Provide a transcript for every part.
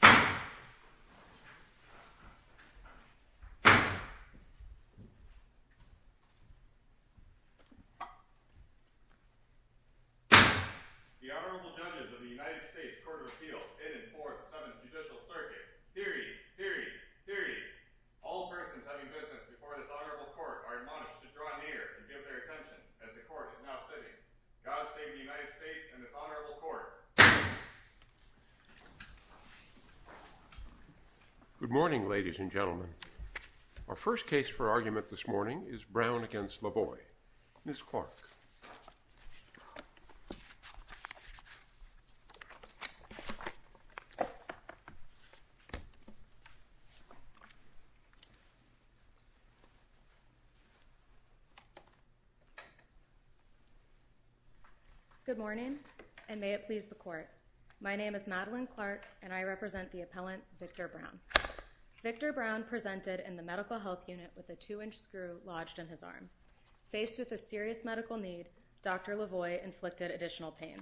The Honorable Judges of the United States Court of Appeals in and forth the Senate Judicial Circuit. Hear ye! Hear ye! Hear ye! All persons having business before this Honorable Court are admonished to draw near and give their attention as the Court is now sitting. God save the United States and this Honorable Court. Good morning, ladies and gentlemen. Our first case for argument this morning is Brown v. LaVoie. Ms. Clark. Good morning, and may it please the Court. My name is Madeline Clark, and I represent the appellant, Victor Brown. Victor Brown presented in the Medical Health Unit with a 2-inch screw lodged in his arm. Faced with a serious medical need, Dr. LaVoie inflicted additional pain.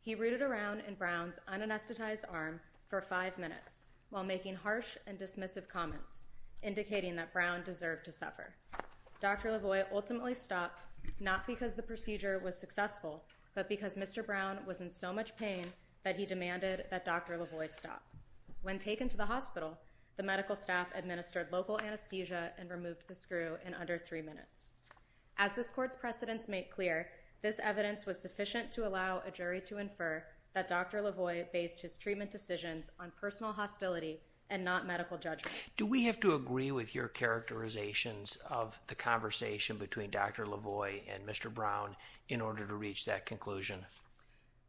He rooted around in Brown's unanesthetized arm for five minutes while making harsh and dismissive comments, indicating that Brown deserved to suffer. Dr. LaVoie ultimately stopped, not because the procedure was successful, but because Mr. Brown was in so much pain that he demanded that Dr. LaVoie stop. When taken to the hospital, the medical staff administered local anesthesia and removed the screw in under three minutes. As this Court's precedents make clear, this evidence was sufficient to allow a jury to infer that Dr. LaVoie based his treatment decisions on personal hostility and not medical judgment. Do we have to agree with your characterizations of the conversation between Dr. LaVoie and Mr. Brown in order to reach that conclusion?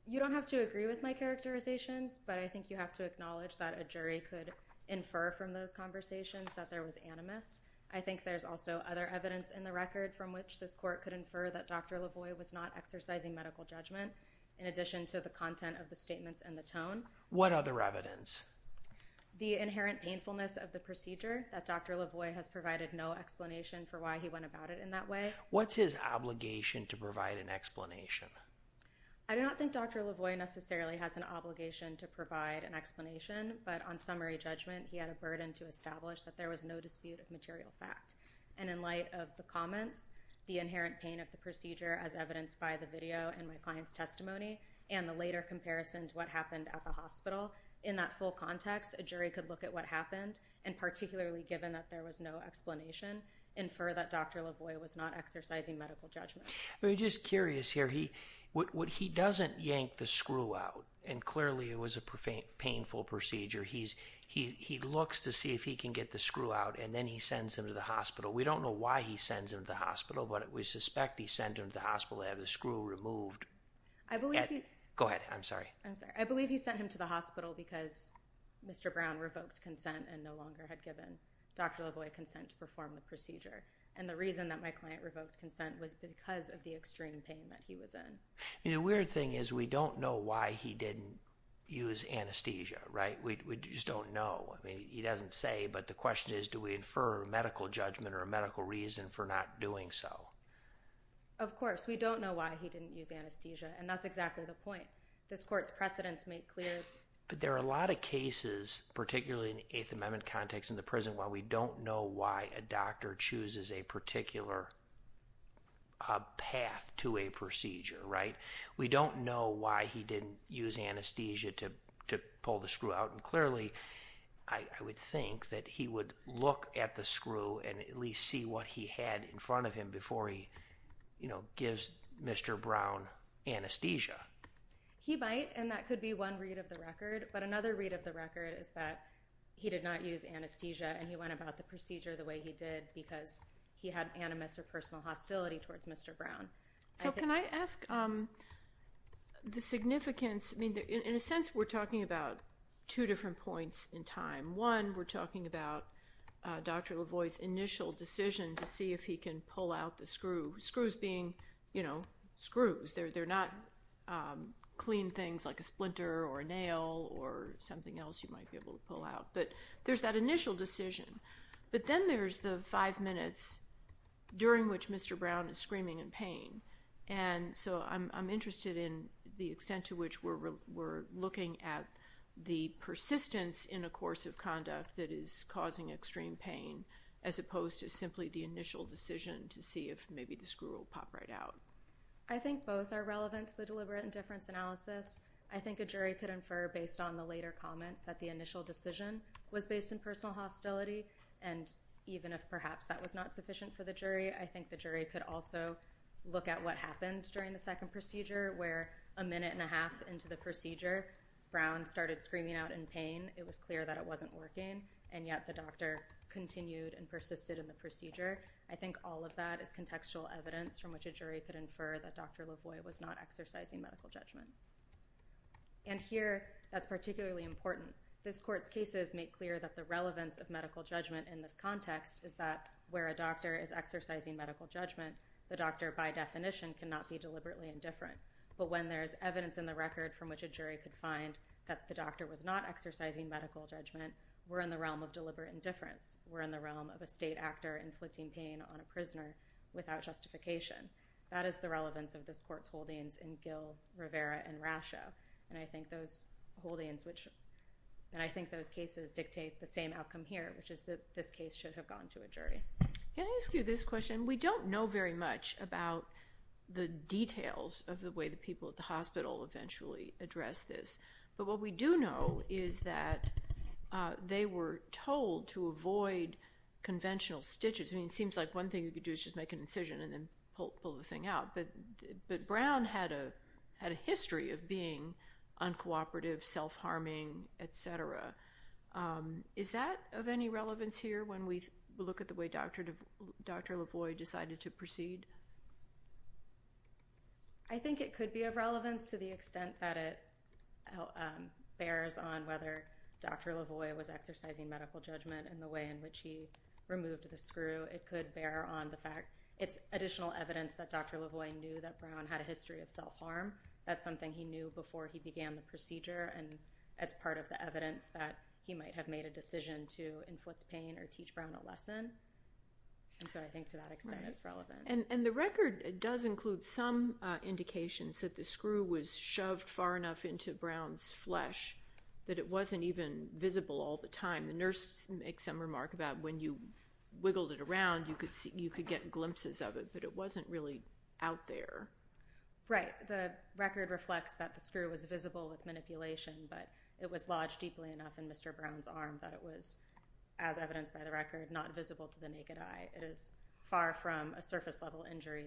You don't have to agree with my characterizations, but I think you have to acknowledge that a jury could infer from those conversations that there was animus. I think there's also other evidence in the record from which this Court could infer that Dr. LaVoie was not exercising medical judgment, in addition to the content of the statements and the tone. What other evidence? The inherent painfulness of the procedure, that Dr. LaVoie has provided no explanation for why he went about it in that way. What's his obligation to provide an explanation? I do not think Dr. LaVoie necessarily has an obligation to provide an explanation, but on summary judgment, he had a burden to establish that there was no dispute of material fact. And in light of the comments, the inherent pain of the procedure as evidenced by the video and my client's testimony, and the later comparison to what happened at the hospital, in that full context, a jury could look at what happened, and particularly given that there was no explanation, infer that Dr. LaVoie was not exercising medical judgment. I'm just curious here, what he doesn't yank the screw out, and clearly it was a painful procedure. He looks to see if he can get the screw out, and then he sends him to the hospital. We don't know why he sends him to the hospital, but we suspect he sent him to the hospital to have the screw removed. I believe he... Go ahead, I'm sorry. I'm sorry. I believe he sent him to the hospital because Mr. Brown revoked consent and no longer had given Dr. LaVoie consent to perform the procedure. And the reason that my client revoked consent was because of the extreme pain that he was in. The weird thing is, we don't know why he didn't use anesthesia, right? We just don't know. I mean, he doesn't say, but the question is, do we infer medical judgment or a medical reason for not doing so? Of course. We don't know why he didn't use anesthesia, and that's exactly the point. This court's precedents make clear... But there are a lot of cases, particularly in the Eighth Amendment context in the prison, where we don't know why a doctor chooses a particular path to a procedure, right? We don't know why he didn't use anesthesia to pull the screw out, and clearly, I would think that he would look at the screw and at least see what he had in front of him before he gives Mr. Brown anesthesia. He might, and that could be one read of the record, but another read of the record is that he did not use anesthesia, and he went about the procedure the way he did because he had animus or personal hostility towards Mr. Brown. So, can I ask the significance, I mean, in a sense, we're talking about two different points in time. One, we're talking about Dr. Lavoie's initial decision to see if he can pull out the screw, screws being, you know, screws. They're not clean things like a splinter or a nail or something else you might be able to pull out. But there's that initial decision, but then there's the five minutes during which Mr. Brown is screaming in pain, and so I'm interested in the extent to which we're looking at the persistence in a course of conduct that is causing extreme pain, as opposed to simply the initial decision to see if maybe the screw will pop right out. I think both are relevant to the deliberate indifference analysis. I think a jury could infer, based on the later comments, that the initial decision was based in personal hostility, and even if perhaps that was not sufficient for the jury, I think the jury could also look at what happened during the second procedure, where a minute and a half into the procedure, Brown started screaming out in pain. It was clear that it wasn't working, and yet the doctor continued and persisted in the procedure. I think all of that is contextual evidence from which a jury could infer that Dr. Lavoie was not exercising medical judgment. And here, that's particularly important. This court's cases make clear that the relevance of medical judgment in this context is that where a doctor is exercising medical judgment, the doctor, by definition, cannot be deliberately indifferent. But when there's evidence in the record from which a jury could find that the doctor was not exercising medical judgment, we're in the realm of deliberate indifference. We're in the realm of a state actor inflicting pain on a prisoner without justification. That is the relevance of this court's holdings in Gill, Rivera, and Rasho. And I think those holdings, and I think those cases, dictate the same outcome here, which is that this case should have gone to a jury. Can I ask you this question? We don't know very much about the details of the way the people at the hospital eventually address this. But what we do know is that they were told to avoid conventional stitches. I mean, it seems like one thing you could do is just make an incision and then pull the thing out. But Brown had a history of being uncooperative, self-harming, et cetera. Is that of any relevance here when we look at the way Dr. Lavoie decided to proceed? I think it could be of relevance to the extent that it bears on whether Dr. Lavoie was exercising medical judgment and the way in which he removed the screw. It could bear on the fact. It's additional evidence that Dr. Lavoie knew that Brown had a history of self-harm. That's something he knew before he began the procedure, and that's part of the evidence that he might have made a decision to inflict pain or teach Brown a lesson. And so I think to that extent it's relevant. And the record does include some indications that the screw was shoved far enough into Brown's flesh that it wasn't even visible all the time. The nurse makes some remark about when you wiggled it around you could get glimpses of it, but it wasn't really out there. Right. The record reflects that the screw was visible with manipulation, but it was lodged deeply enough in Mr. Brown's arm that it was, as evidenced by the record, not visible to the naked eye. It is far from a surface-level injury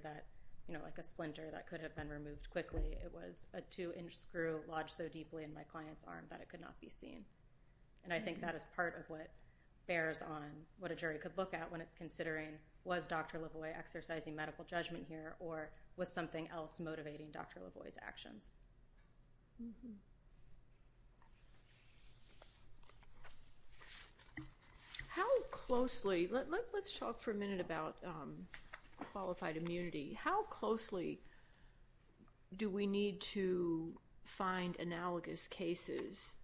like a splinter that could have been removed quickly. It was a two-inch screw lodged so deeply in my client's arm that it could not be seen. And I think that is part of what bears on what a jury could look at when it's considering was Dr. Lavoie exercising medical judgment here or was something else motivating Dr. Lavoie's actions. Let's talk for a minute about qualified immunity. How closely do we need to find analogous cases?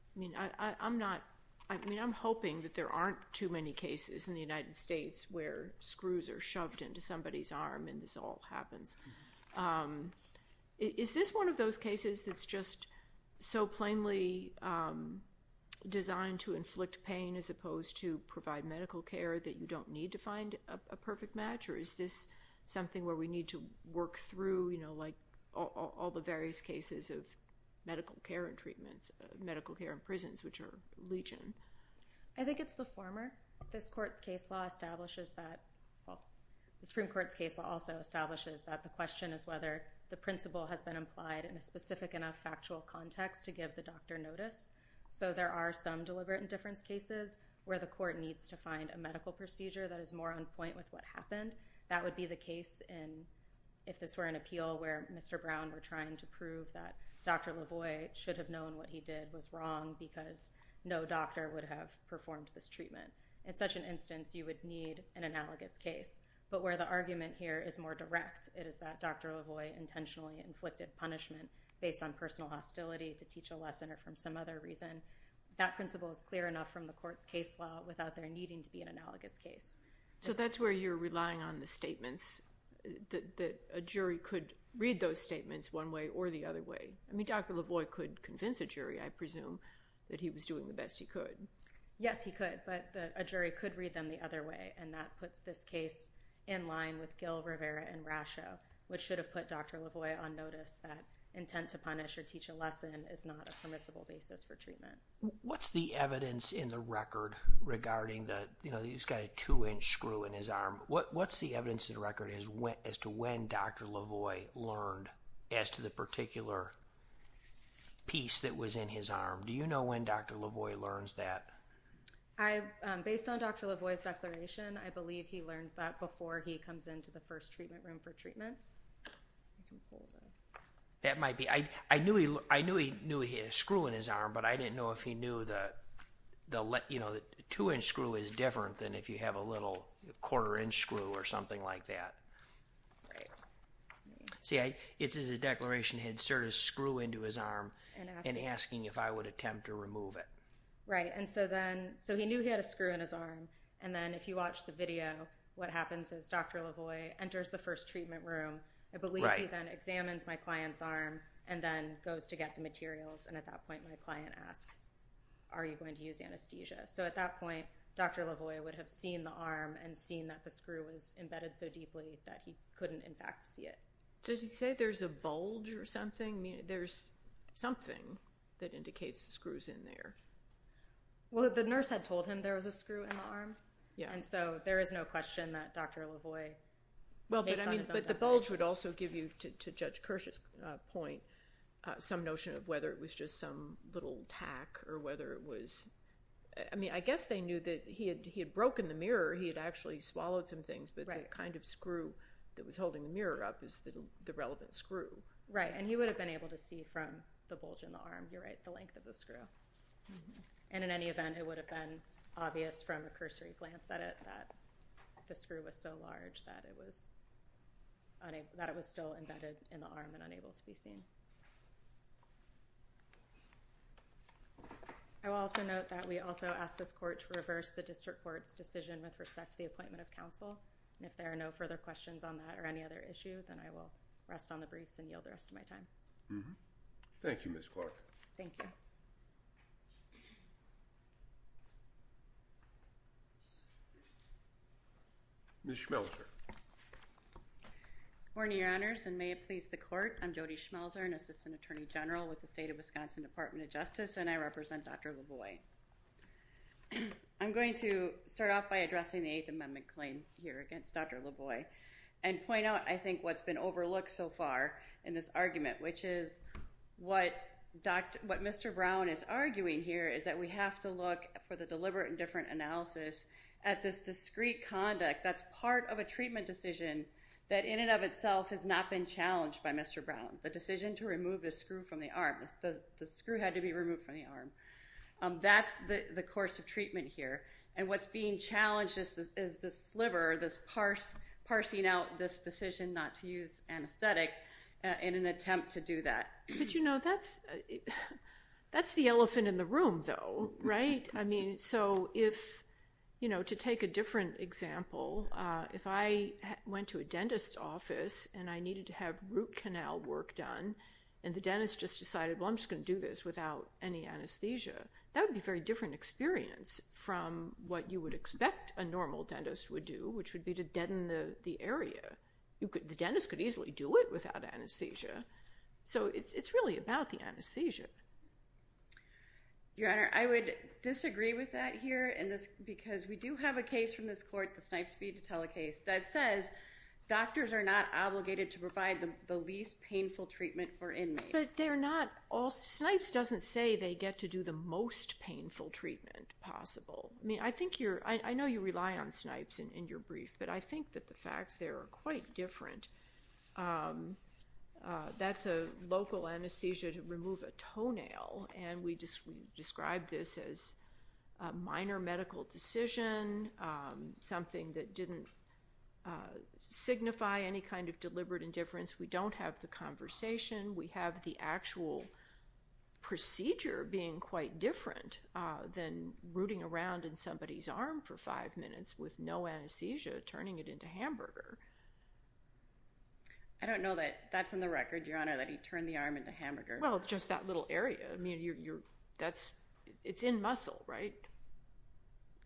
I'm hoping that there aren't too many cases in the United States where screws are shoved into somebody's arm and this all happens. Is this one of those cases that's just so plainly designed to inflict pain as opposed to provide medical care that you don't need to find a perfect match, or is this something where we need to work through all the various cases of medical care and prisons, which are legion? I think it's the former. This Supreme Court's case law also establishes that the question is whether the principle has been implied in a specific enough factual context to give the doctor notice. So there are some deliberate indifference cases where the court needs to find a medical procedure that is more on point with what happened. That would be the case if this were an appeal where Mr. Brown were trying to prove that Dr. Lavoie should have known what he did was wrong because no doctor would have performed this treatment. In such an instance, you would need an analogous case. But where the argument here is more direct, it is that Dr. Lavoie intentionally inflicted punishment based on personal hostility to teach a lesson or from some other reason. That principle is clear enough from the court's case law without there needing to be an analogous case. So that's where you're relying on the statements that a jury could read those statements one way or the other way. I mean, Dr. Lavoie could convince a jury, I presume, that he was doing the best he could. Yes, he could. But a jury could read them the other way. And that puts this case in line with Gil, Rivera, and Rasho, which should have put Dr. Lavoie on notice that intent to punish or teach a lesson is not a permissible basis for treatment. What's the evidence in the record regarding that he's got a two-inch screw in his arm? What's the evidence in the record as to when Dr. Lavoie learned as to the particular piece that was in his arm? Do you know when Dr. Lavoie learns that? Based on Dr. Lavoie's declaration, I believe he learns that before he comes into the first treatment room for treatment. That might be. I knew he knew he had a screw in his arm, but I didn't know if he knew that the two-inch screw is different than if you have a little quarter-inch screw or something like that. Right. See, it's as if the declaration had inserted a screw into his arm and asking if I would attempt to remove it. Right. And so then, so he knew he had a screw in his arm. And then if you watch the video, what happens is Dr. Lavoie enters the first treatment room. I believe he then examines my client's arm and then goes to get the materials. And at that point, my client asks, are you going to use anesthesia? So at that point, Dr. Lavoie would have seen the arm and seen that the screw was embedded so deeply that he couldn't, in fact, see it. Did he say there's a bulge or something? There's something that indicates the screw's in there. Well, the nurse had told him there was a screw in the arm. And so there is no question that Dr. Lavoie based on his own definition. But the bulge would also give you, to Judge Kirsch's point, some notion of whether it was just some little tack or whether it was... I guess they knew that he had broken the mirror. He had actually swallowed some things, but the kind of screw that was holding the mirror up is the relevant screw. Right. And he would have been able to see from the bulge in the arm, you're right, the length of the screw. And in any event, it would have been obvious from a cursory glance at it that the screw was so large that it was still embedded in the arm and unable to be seen. I will also note that we also asked this court to reverse the district court's decision with respect to the appointment of counsel. And if there are no further questions on that or any other issue, then I will rest on the briefs and yield the rest of my time. Thank you, Ms. Clark. Thank you. Ms. Schmelzer. Good morning, Your Honors, and may it please the court, I'm Jody Schmelzer, an Assistant Attorney General with the State of Wisconsin Department of Justice, and I represent Dr. Lavoie. I'm going to start off by addressing the Eighth Amendment claim here against Dr. Lavoie and point out, I think, what's been overlooked so far in this argument, which is what Mr. Brown is arguing here is that we have to look for the deliberate and different analysis at this discreet conduct that's part of a treatment decision that in and of itself has not been challenged by Mr. Brown, the decision to remove the screw from the arm. The screw had to be removed from the arm. That's the course of treatment here, and what's being challenged is this sliver, this parsing out this decision not to use anesthetic in an attempt to do that. But, you know, that's the elephant in the room, though, right? I mean, so if, you know, to take a different example, if I went to a dentist's office and I needed to have root canal work done and the dentist just decided, well, I'm just going to do this without any anesthesia, that would be a very different experience from what you would expect a normal dentist would do, which would be to deaden the area. The dentist could easily do it without anesthesia. So it's really about the anesthesia. Your Honor, I would disagree with that here because we do have a case from this court, the Snipes v. Detelicase, that says doctors are not obligated to provide the least painful treatment for inmates. But they're not all… Snipes doesn't say they get to do the most painful treatment possible. I mean, I think you're… I know you rely on Snipes in your brief, but I think that the facts there are quite different. That's a local anesthesia to remove a toenail, and we describe this as a minor medical decision, something that didn't signify any kind of deliberate indifference. We don't have the conversation. We have the actual procedure being quite different than rooting around in somebody's arm for five minutes with no anesthesia, turning it into hamburger. I don't know that that's in the record, Your Honor, that he turned the arm into hamburger. Well, just that little area. I mean, you're… That's… It's in muscle, right?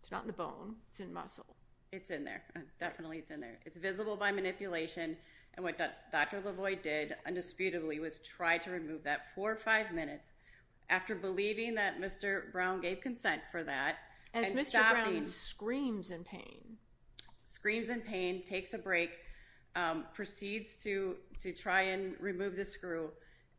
It's not in the bone. It's in muscle. It's in there. Definitely, it's in there. It's visible by manipulation. And what Dr. LaVoie did, indisputably, was try to remove that for five minutes. After believing that Mr. Brown gave consent for that, and stopping… As Mr. Brown screams in pain. Screams in pain, takes a break, proceeds to try and remove the screw.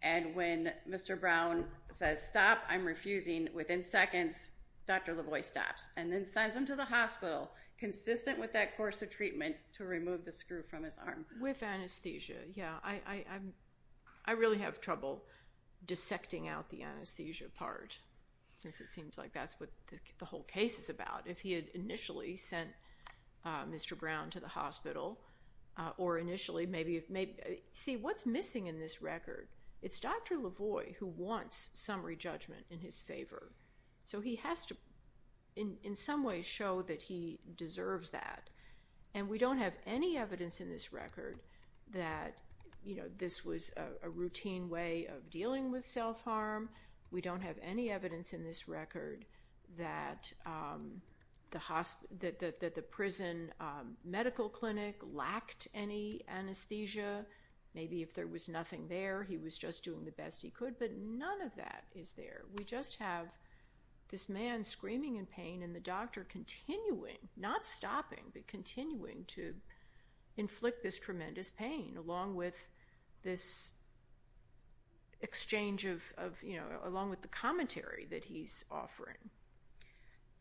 And when Mr. Brown says, stop, I'm refusing, within seconds, Dr. LaVoie stops and then sends him to the hospital, consistent with that course of treatment, to remove the screw from his arm. With anesthesia, yeah. I really have trouble dissecting out the anesthesia part, since it seems like that's what the whole case is about. If he had initially sent Mr. Brown to the hospital, or initially, maybe… See, what's missing in this record? It's Dr. LaVoie who wants some re-judgment in his favor. So he has to, in some ways, show that he deserves that. And we don't have any evidence in this record that this was a routine way of dealing with self-harm. We don't have any evidence in this record that the prison medical clinic lacked any Maybe if there was nothing there, he was just doing the best he could, but none of that is there. We just have this man screaming in pain, and the doctor continuing, not stopping, but continuing to inflict this tremendous pain, along with this exchange of, you know, along with the commentary that he's offering.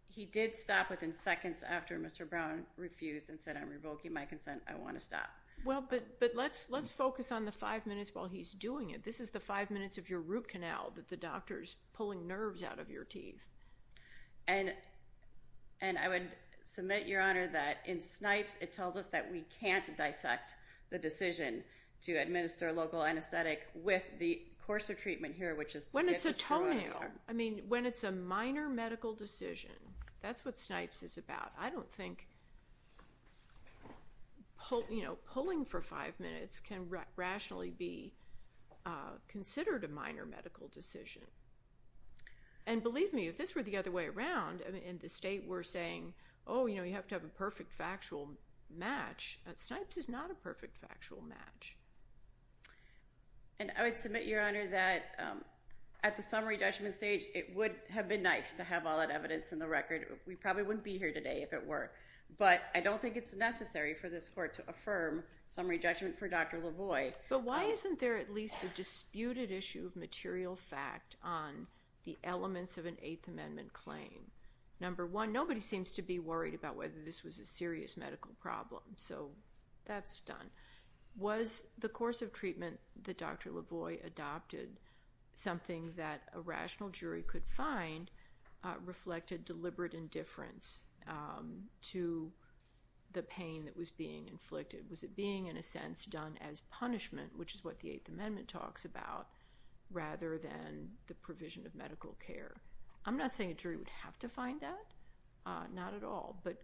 He did stop within seconds after Mr. Brown refused and said, I'm revoking my consent, I want to stop. Well, but let's focus on the five minutes while he's doing it. This is the five minutes of your root canal that the doctor's pulling nerves out of your teeth. And I would submit, Your Honor, that in Snipes, it tells us that we can't dissect the decision to administer local anesthetic with the coarser treatment here, which is… When it's a toenail, I mean, when it's a minor medical decision, that's what Snipes is about. I don't think, you know, pulling for five minutes can rationally be considered a minor medical decision. And believe me, if this were the other way around, and the state were saying, oh, you know, you have to have a perfect factual match, Snipes is not a perfect factual match. And I would submit, Your Honor, that at the summary judgment stage, it would have been nice to have all that evidence in the record. We probably wouldn't be here today if it were. But I don't think it's necessary for this Court to affirm summary judgment for Dr. Lavoie. But why isn't there at least a disputed issue of material fact on the elements of an Eighth Amendment claim? Number one, nobody seems to be worried about whether this was a serious medical problem, so that's done. Was the coarser treatment that Dr. Lavoie adopted something that a rational jury could find reflected deliberate indifference to the pain that was being inflicted? Was it being, in a sense, done as punishment, which is what the Eighth Amendment talks about, rather than the provision of medical care? I'm not saying a jury would have to find that. Not at all. But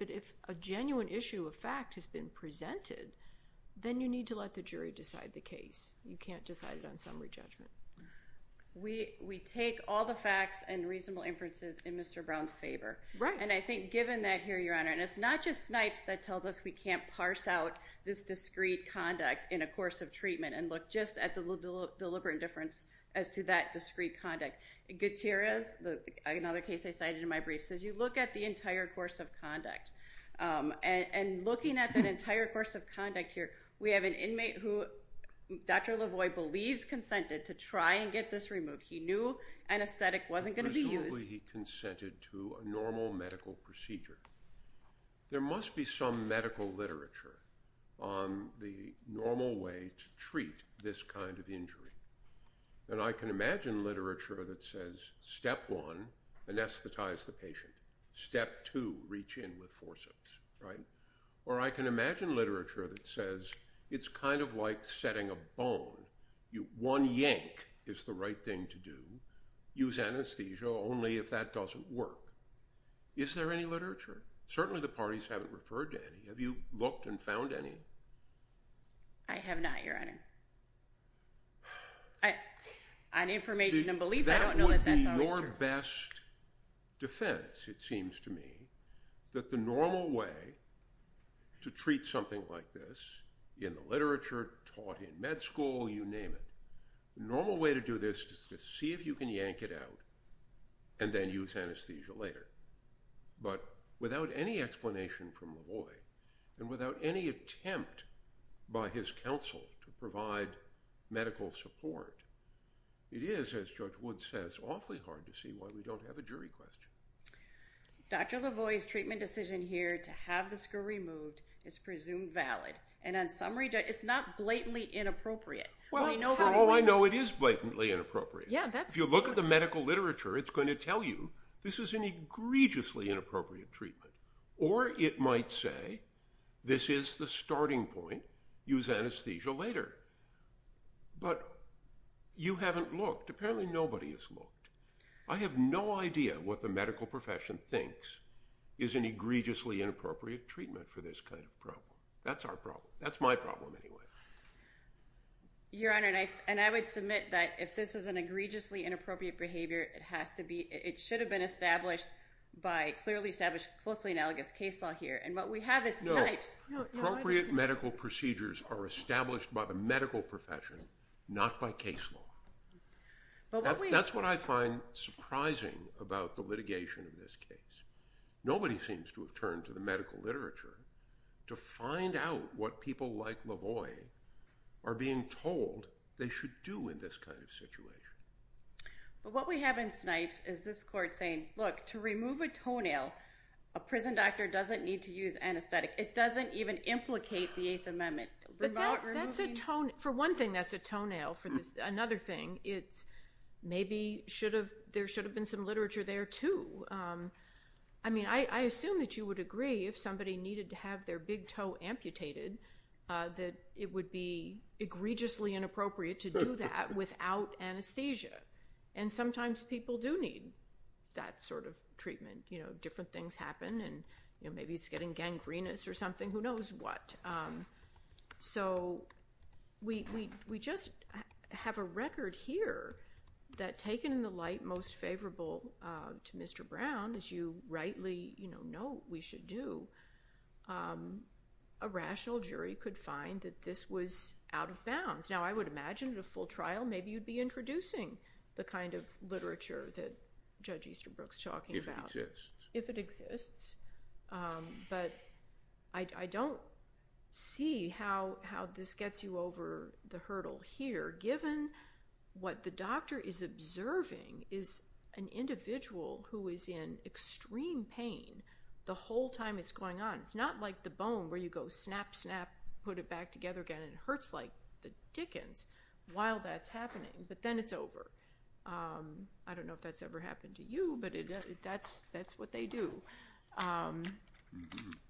if a genuine issue of fact has been presented, then you need to let the jury decide the case. You can't decide it on summary judgment. We take all the facts and reasonable inferences in Mr. Brown's favor. And I think given that here, Your Honor, and it's not just Snipes that tells us we can't parse out this discreet conduct in a course of treatment and look just at the deliberate indifference as to that discreet conduct. Gutierrez, another case I cited in my brief, says you look at the entire course of conduct. And looking at that entire course of conduct here, we have an inmate who Dr. Lavoie believes consented to try and get this removed. He knew anesthetic wasn't going to be used. Presumably he consented to a normal medical procedure. There must be some medical literature on the normal way to treat this kind of injury. And I can imagine literature that says, step one, anesthetize the patient. Step two, reach in with forceps. Or I can imagine literature that says, it's kind of like setting a bone. One yank is the right thing to do. Use anesthesia only if that doesn't work. Is there any literature? Certainly the parties haven't referred to any. Have you looked and found any? I have not, Your Honor. On information and belief, I don't know that that's always true. It's my best defense, it seems to me, that the normal way to treat something like this in the literature, taught in med school, you name it, the normal way to do this is to see if you can yank it out and then use anesthesia later. But without any explanation from Lavoie, and without any attempt by his counsel to provide medical support, it is, as Judge Wood says, awfully hard to see why we don't have a jury question. Dr. Lavoie's treatment decision here to have the scar removed is presumed valid. And on summary, it's not blatantly inappropriate. Well, I know it is blatantly inappropriate. If you look at the medical literature, it's going to tell you, this is an egregiously inappropriate treatment. Or it might say, this is the starting point, use anesthesia later. But you haven't looked. Apparently nobody has looked. I have no idea what the medical profession thinks is an egregiously inappropriate treatment for this kind of problem. That's our problem. That's my problem, anyway. Your Honor, and I would submit that if this is an egregiously inappropriate behavior, it should have been established by clearly established, closely analogous case law here. And what we have is snipes. Appropriate medical procedures are established by the medical profession, not by case law. That's what I find surprising about the litigation of this case. Nobody seems to have turned to the medical literature to find out what people like Lavoie But what we have in snipes is this court saying, look, to remove a toenail, a prison doctor doesn't need to use anesthetic. It doesn't even implicate the Eighth Amendment. But that's a toenail. For one thing, that's a toenail. For another thing, it's maybe there should have been some literature there, too. I mean, I assume that you would agree if somebody needed to have their big toe amputated that it would be egregiously inappropriate to do that without anesthesia. And sometimes people do need that sort of treatment. Different things happen, and maybe it's getting gangrenous or something, who knows what. So we just have a record here that, taken in the light most favorable to Mr. Do, a rational jury could find that this was out of bounds. Now, I would imagine at a full trial, maybe you'd be introducing the kind of literature that Judge Easterbrook's talking about. If it exists. If it exists. But I don't see how this gets you over the hurdle here, given what the doctor is observing is an individual who is in extreme pain the whole time it's going on. It's not like the bone where you go snap, snap, put it back together again, and it hurts like the dickens while that's happening. But then it's over. I don't know if that's ever happened to you, but that's what they do. It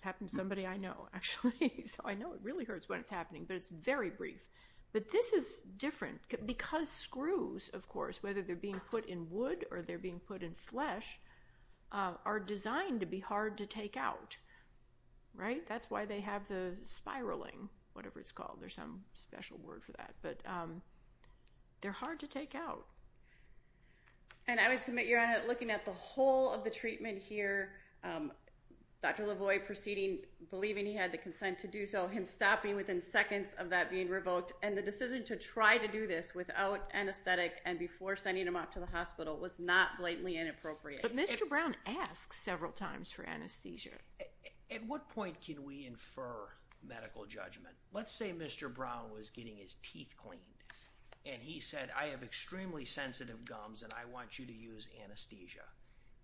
happened to somebody I know, actually. So I know it really hurts when it's happening, but it's very brief. But this is different because screws, of course, whether they're being put in wood or they're being put in flesh, are designed to be hard to take out, right? That's why they have the spiraling, whatever it's called. There's some special word for that, but they're hard to take out. And I would submit, Your Honor, looking at the whole of the treatment here, Dr. LaVoy proceeding, believing he had the consent to do so, him stopping within seconds of that being revoked, and the decision to try to do this without anesthetic and before sending him out to the hospital was not blatantly inappropriate. But Mr. Brown asks several times for anesthesia. At what point can we infer medical judgment? Let's say Mr. Brown was getting his teeth cleaned, and he said, I have extremely sensitive gums and I want you to use anesthesia.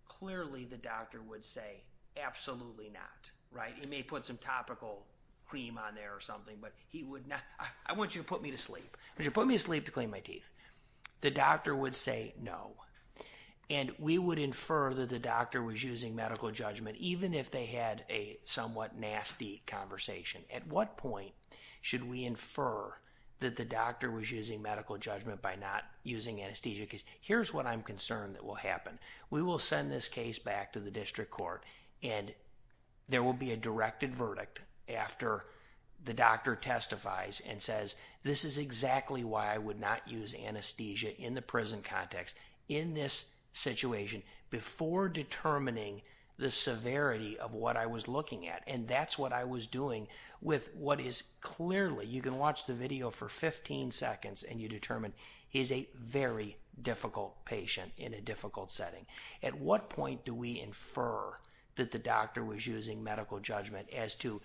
Clearly the doctor would say, absolutely not, right? You may put some topical cream on there or something, but he would not, I want you to put me to sleep. I want you to put me to sleep to clean my teeth. The doctor would say, no. And we would infer that the doctor was using medical judgment, even if they had a somewhat nasty conversation. At what point should we infer that the doctor was using medical judgment by not using anesthesia? Here's what I'm concerned that will happen. We will send this case back to the district court, and there will be a directed verdict after the doctor testifies and says, this is exactly why I would not use anesthesia in the prison context in this situation before determining the severity of what I was looking at. And that's what I was doing with what is clearly, you can watch the video for 15 seconds and you determine he's a very difficult patient in a difficult setting. At what point do we infer that the doctor was using medical judgment as to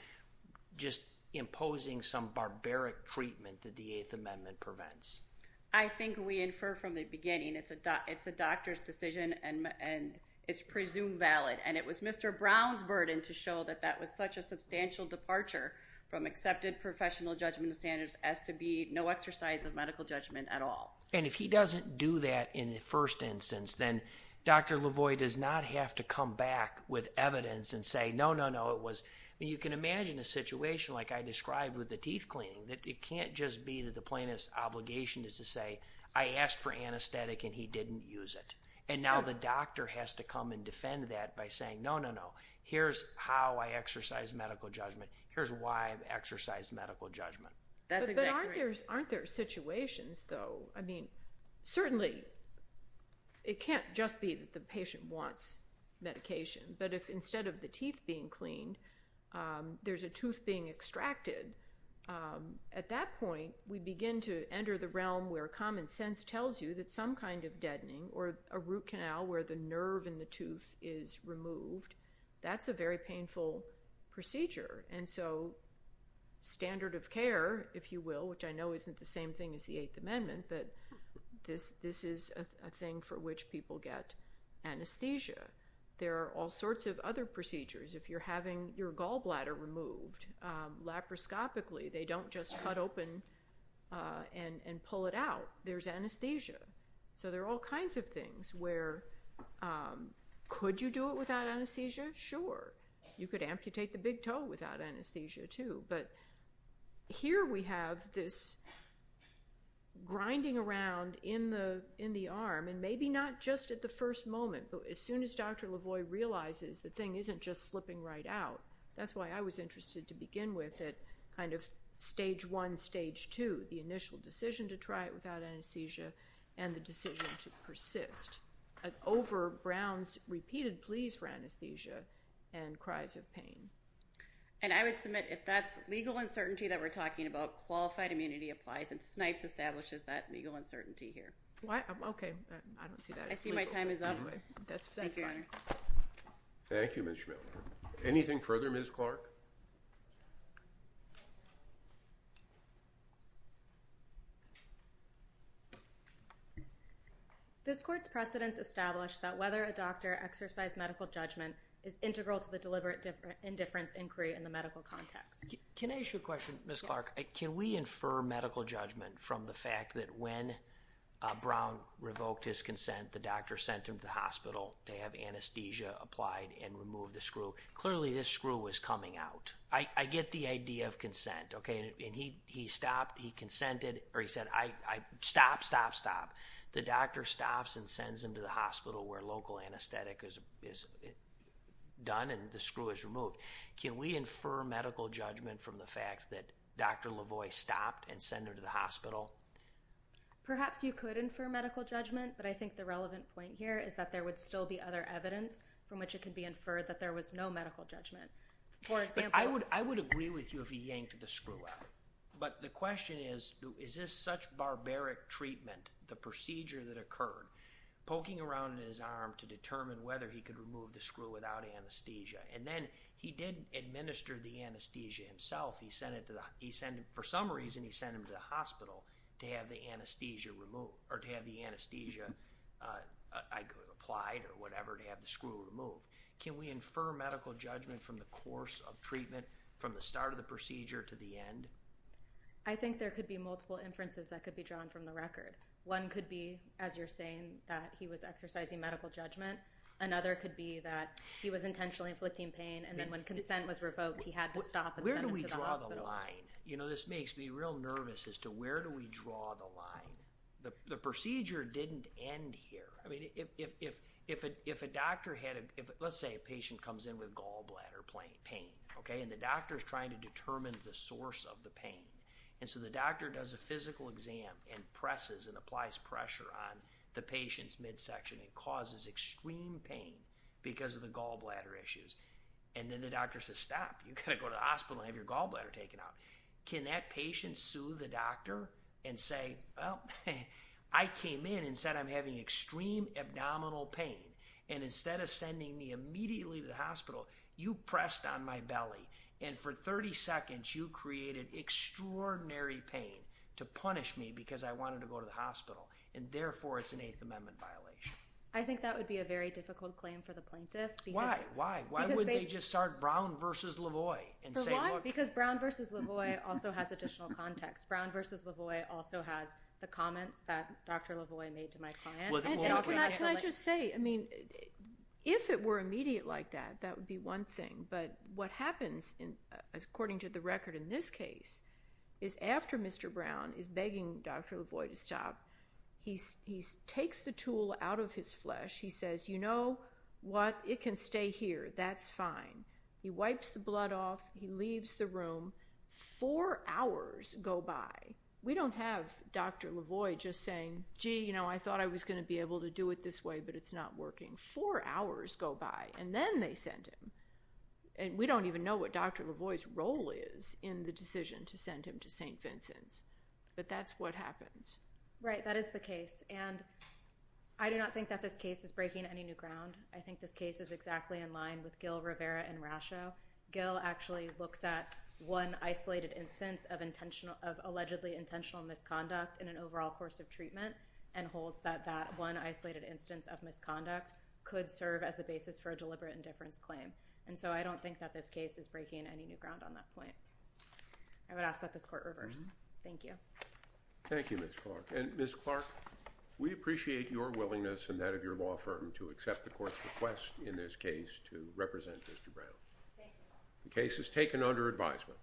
just imposing some barbaric treatment that the Eighth Amendment prevents? I think we infer from the beginning it's a doctor's decision and it's presumed valid. And it was Mr. Brown's burden to show that that was such a substantial departure from exercise of medical judgment at all. And if he doesn't do that in the first instance, then Dr. Lavoie does not have to come back with evidence and say, no, no, no, it was. You can imagine a situation like I described with the teeth cleaning, that it can't just be that the plaintiff's obligation is to say, I asked for anesthetic and he didn't use it. And now the doctor has to come and defend that by saying, no, no, no, here's how I exercise medical judgment. Here's why I've exercised medical judgment. That's exactly right. But aren't there situations, though, I mean, certainly it can't just be that the patient wants medication. But if instead of the teeth being cleaned, there's a tooth being extracted, at that point we begin to enter the realm where common sense tells you that some kind of deadening or a root canal where the nerve in the tooth is removed, that's a very painful procedure. And so standard of care, if you will, which I know isn't the same thing as the Eighth Amendment, but this is a thing for which people get anesthesia. There are all sorts of other procedures. If you're having your gallbladder removed, laparoscopically, they don't just cut open and pull it out, there's anesthesia. So there are all kinds of things where, could you do it without anesthesia? Sure. You could amputate the big toe without anesthesia, too, but here we have this grinding around in the arm, and maybe not just at the first moment, but as soon as Dr. LaVoy realizes the thing isn't just slipping right out. That's why I was interested to begin with at kind of stage one, stage two, the initial decision to try it without anesthesia and the decision to persist. An over Brown's repeated pleas for anesthesia and cries of pain. And I would submit if that's legal uncertainty that we're talking about, qualified immunity applies and Snipes establishes that legal uncertainty here. What? Okay. I don't see that. I see my time is up. That's fine. Thank you. Thank you, Ms. Schmidl. Anything further, Ms. Clark? This court's precedents established that whether a doctor exercised medical judgment is integral to the deliberate indifference inquiry in the medical context. Can I ask you a question, Ms. Clark? Can we infer medical judgment from the fact that when Brown revoked his consent, the doctor sent him to the hospital to have anesthesia applied and remove the screw? Clearly, this screw was coming out. I get the idea of consent, okay, and he stopped, he consented, or he said, stop, stop, stop. The doctor stops and sends him to the hospital where local anesthetic is done and the screw is removed. Can we infer medical judgment from the fact that Dr. Lavoie stopped and send him to the hospital? Perhaps you could infer medical judgment, but I think the relevant point here is that there would still be other evidence from which it could be inferred that there was no medical judgment. For example- I would agree with you if he yanked the screw out. But the question is, is this such barbaric treatment, the procedure that occurred, poking around in his arm to determine whether he could remove the screw without anesthesia? And then, he did administer the anesthesia himself. He sent him, for some reason, he sent him to the hospital to have the anesthesia removed or whatever to have the screw removed. Can we infer medical judgment from the course of treatment, from the start of the procedure to the end? I think there could be multiple inferences that could be drawn from the record. One could be, as you're saying, that he was exercising medical judgment. Another could be that he was intentionally inflicting pain and then when consent was revoked, he had to stop and send him to the hospital. Where do we draw the line? You know, this makes me real nervous as to where do we draw the line. The procedure didn't end here. I mean, if a doctor had a, let's say a patient comes in with gallbladder pain, okay, and the doctor is trying to determine the source of the pain, and so the doctor does a physical exam and presses and applies pressure on the patient's midsection and causes extreme pain because of the gallbladder issues. And then the doctor says, stop. You've got to go to the hospital and have your gallbladder taken out. Can that patient sue the doctor and say, well, I came in and said I'm having extreme abdominal pain and instead of sending me immediately to the hospital, you pressed on my belly and for 30 seconds you created extraordinary pain to punish me because I wanted to go to the hospital. And therefore, it's an Eighth Amendment violation. I think that would be a very difficult claim for the plaintiff because- Why? Why? Why wouldn't they just start Brown versus Lavoie and say, look- Because Brown versus Lavoie also has additional context. Brown versus Lavoie also has the comments that Dr. Lavoie made to my client. And also- Can I just say, I mean, if it were immediate like that, that would be one thing. But what happens, according to the record in this case, is after Mr. Brown is begging Dr. Lavoie to stop, he takes the tool out of his flesh. He says, you know what? It can stay here. That's fine. He wipes the blood off. He leaves the room. Four hours go by. We don't have Dr. Lavoie just saying, gee, you know, I thought I was going to be able to do it this way, but it's not working. Four hours go by and then they send him. And we don't even know what Dr. Lavoie's role is in the decision to send him to St. Vincent's. But that's what happens. Right. That is the case. And I do not think that this case is breaking any new ground. I think this case is exactly in line with Gil, Rivera, and Rasho. Gil actually looks at one isolated instance of allegedly intentional misconduct in an overall course of treatment and holds that that one isolated instance of misconduct could serve as the basis for a deliberate indifference claim. And so I don't think that this case is breaking any new ground on that point. I would ask that this court reverse. Thank you. Thank you, Ms. Clark. And Ms. Clark, we appreciate your willingness and that of your law firm to accept the court's request in this case to represent Mr. Brown. The case is taken under advisement.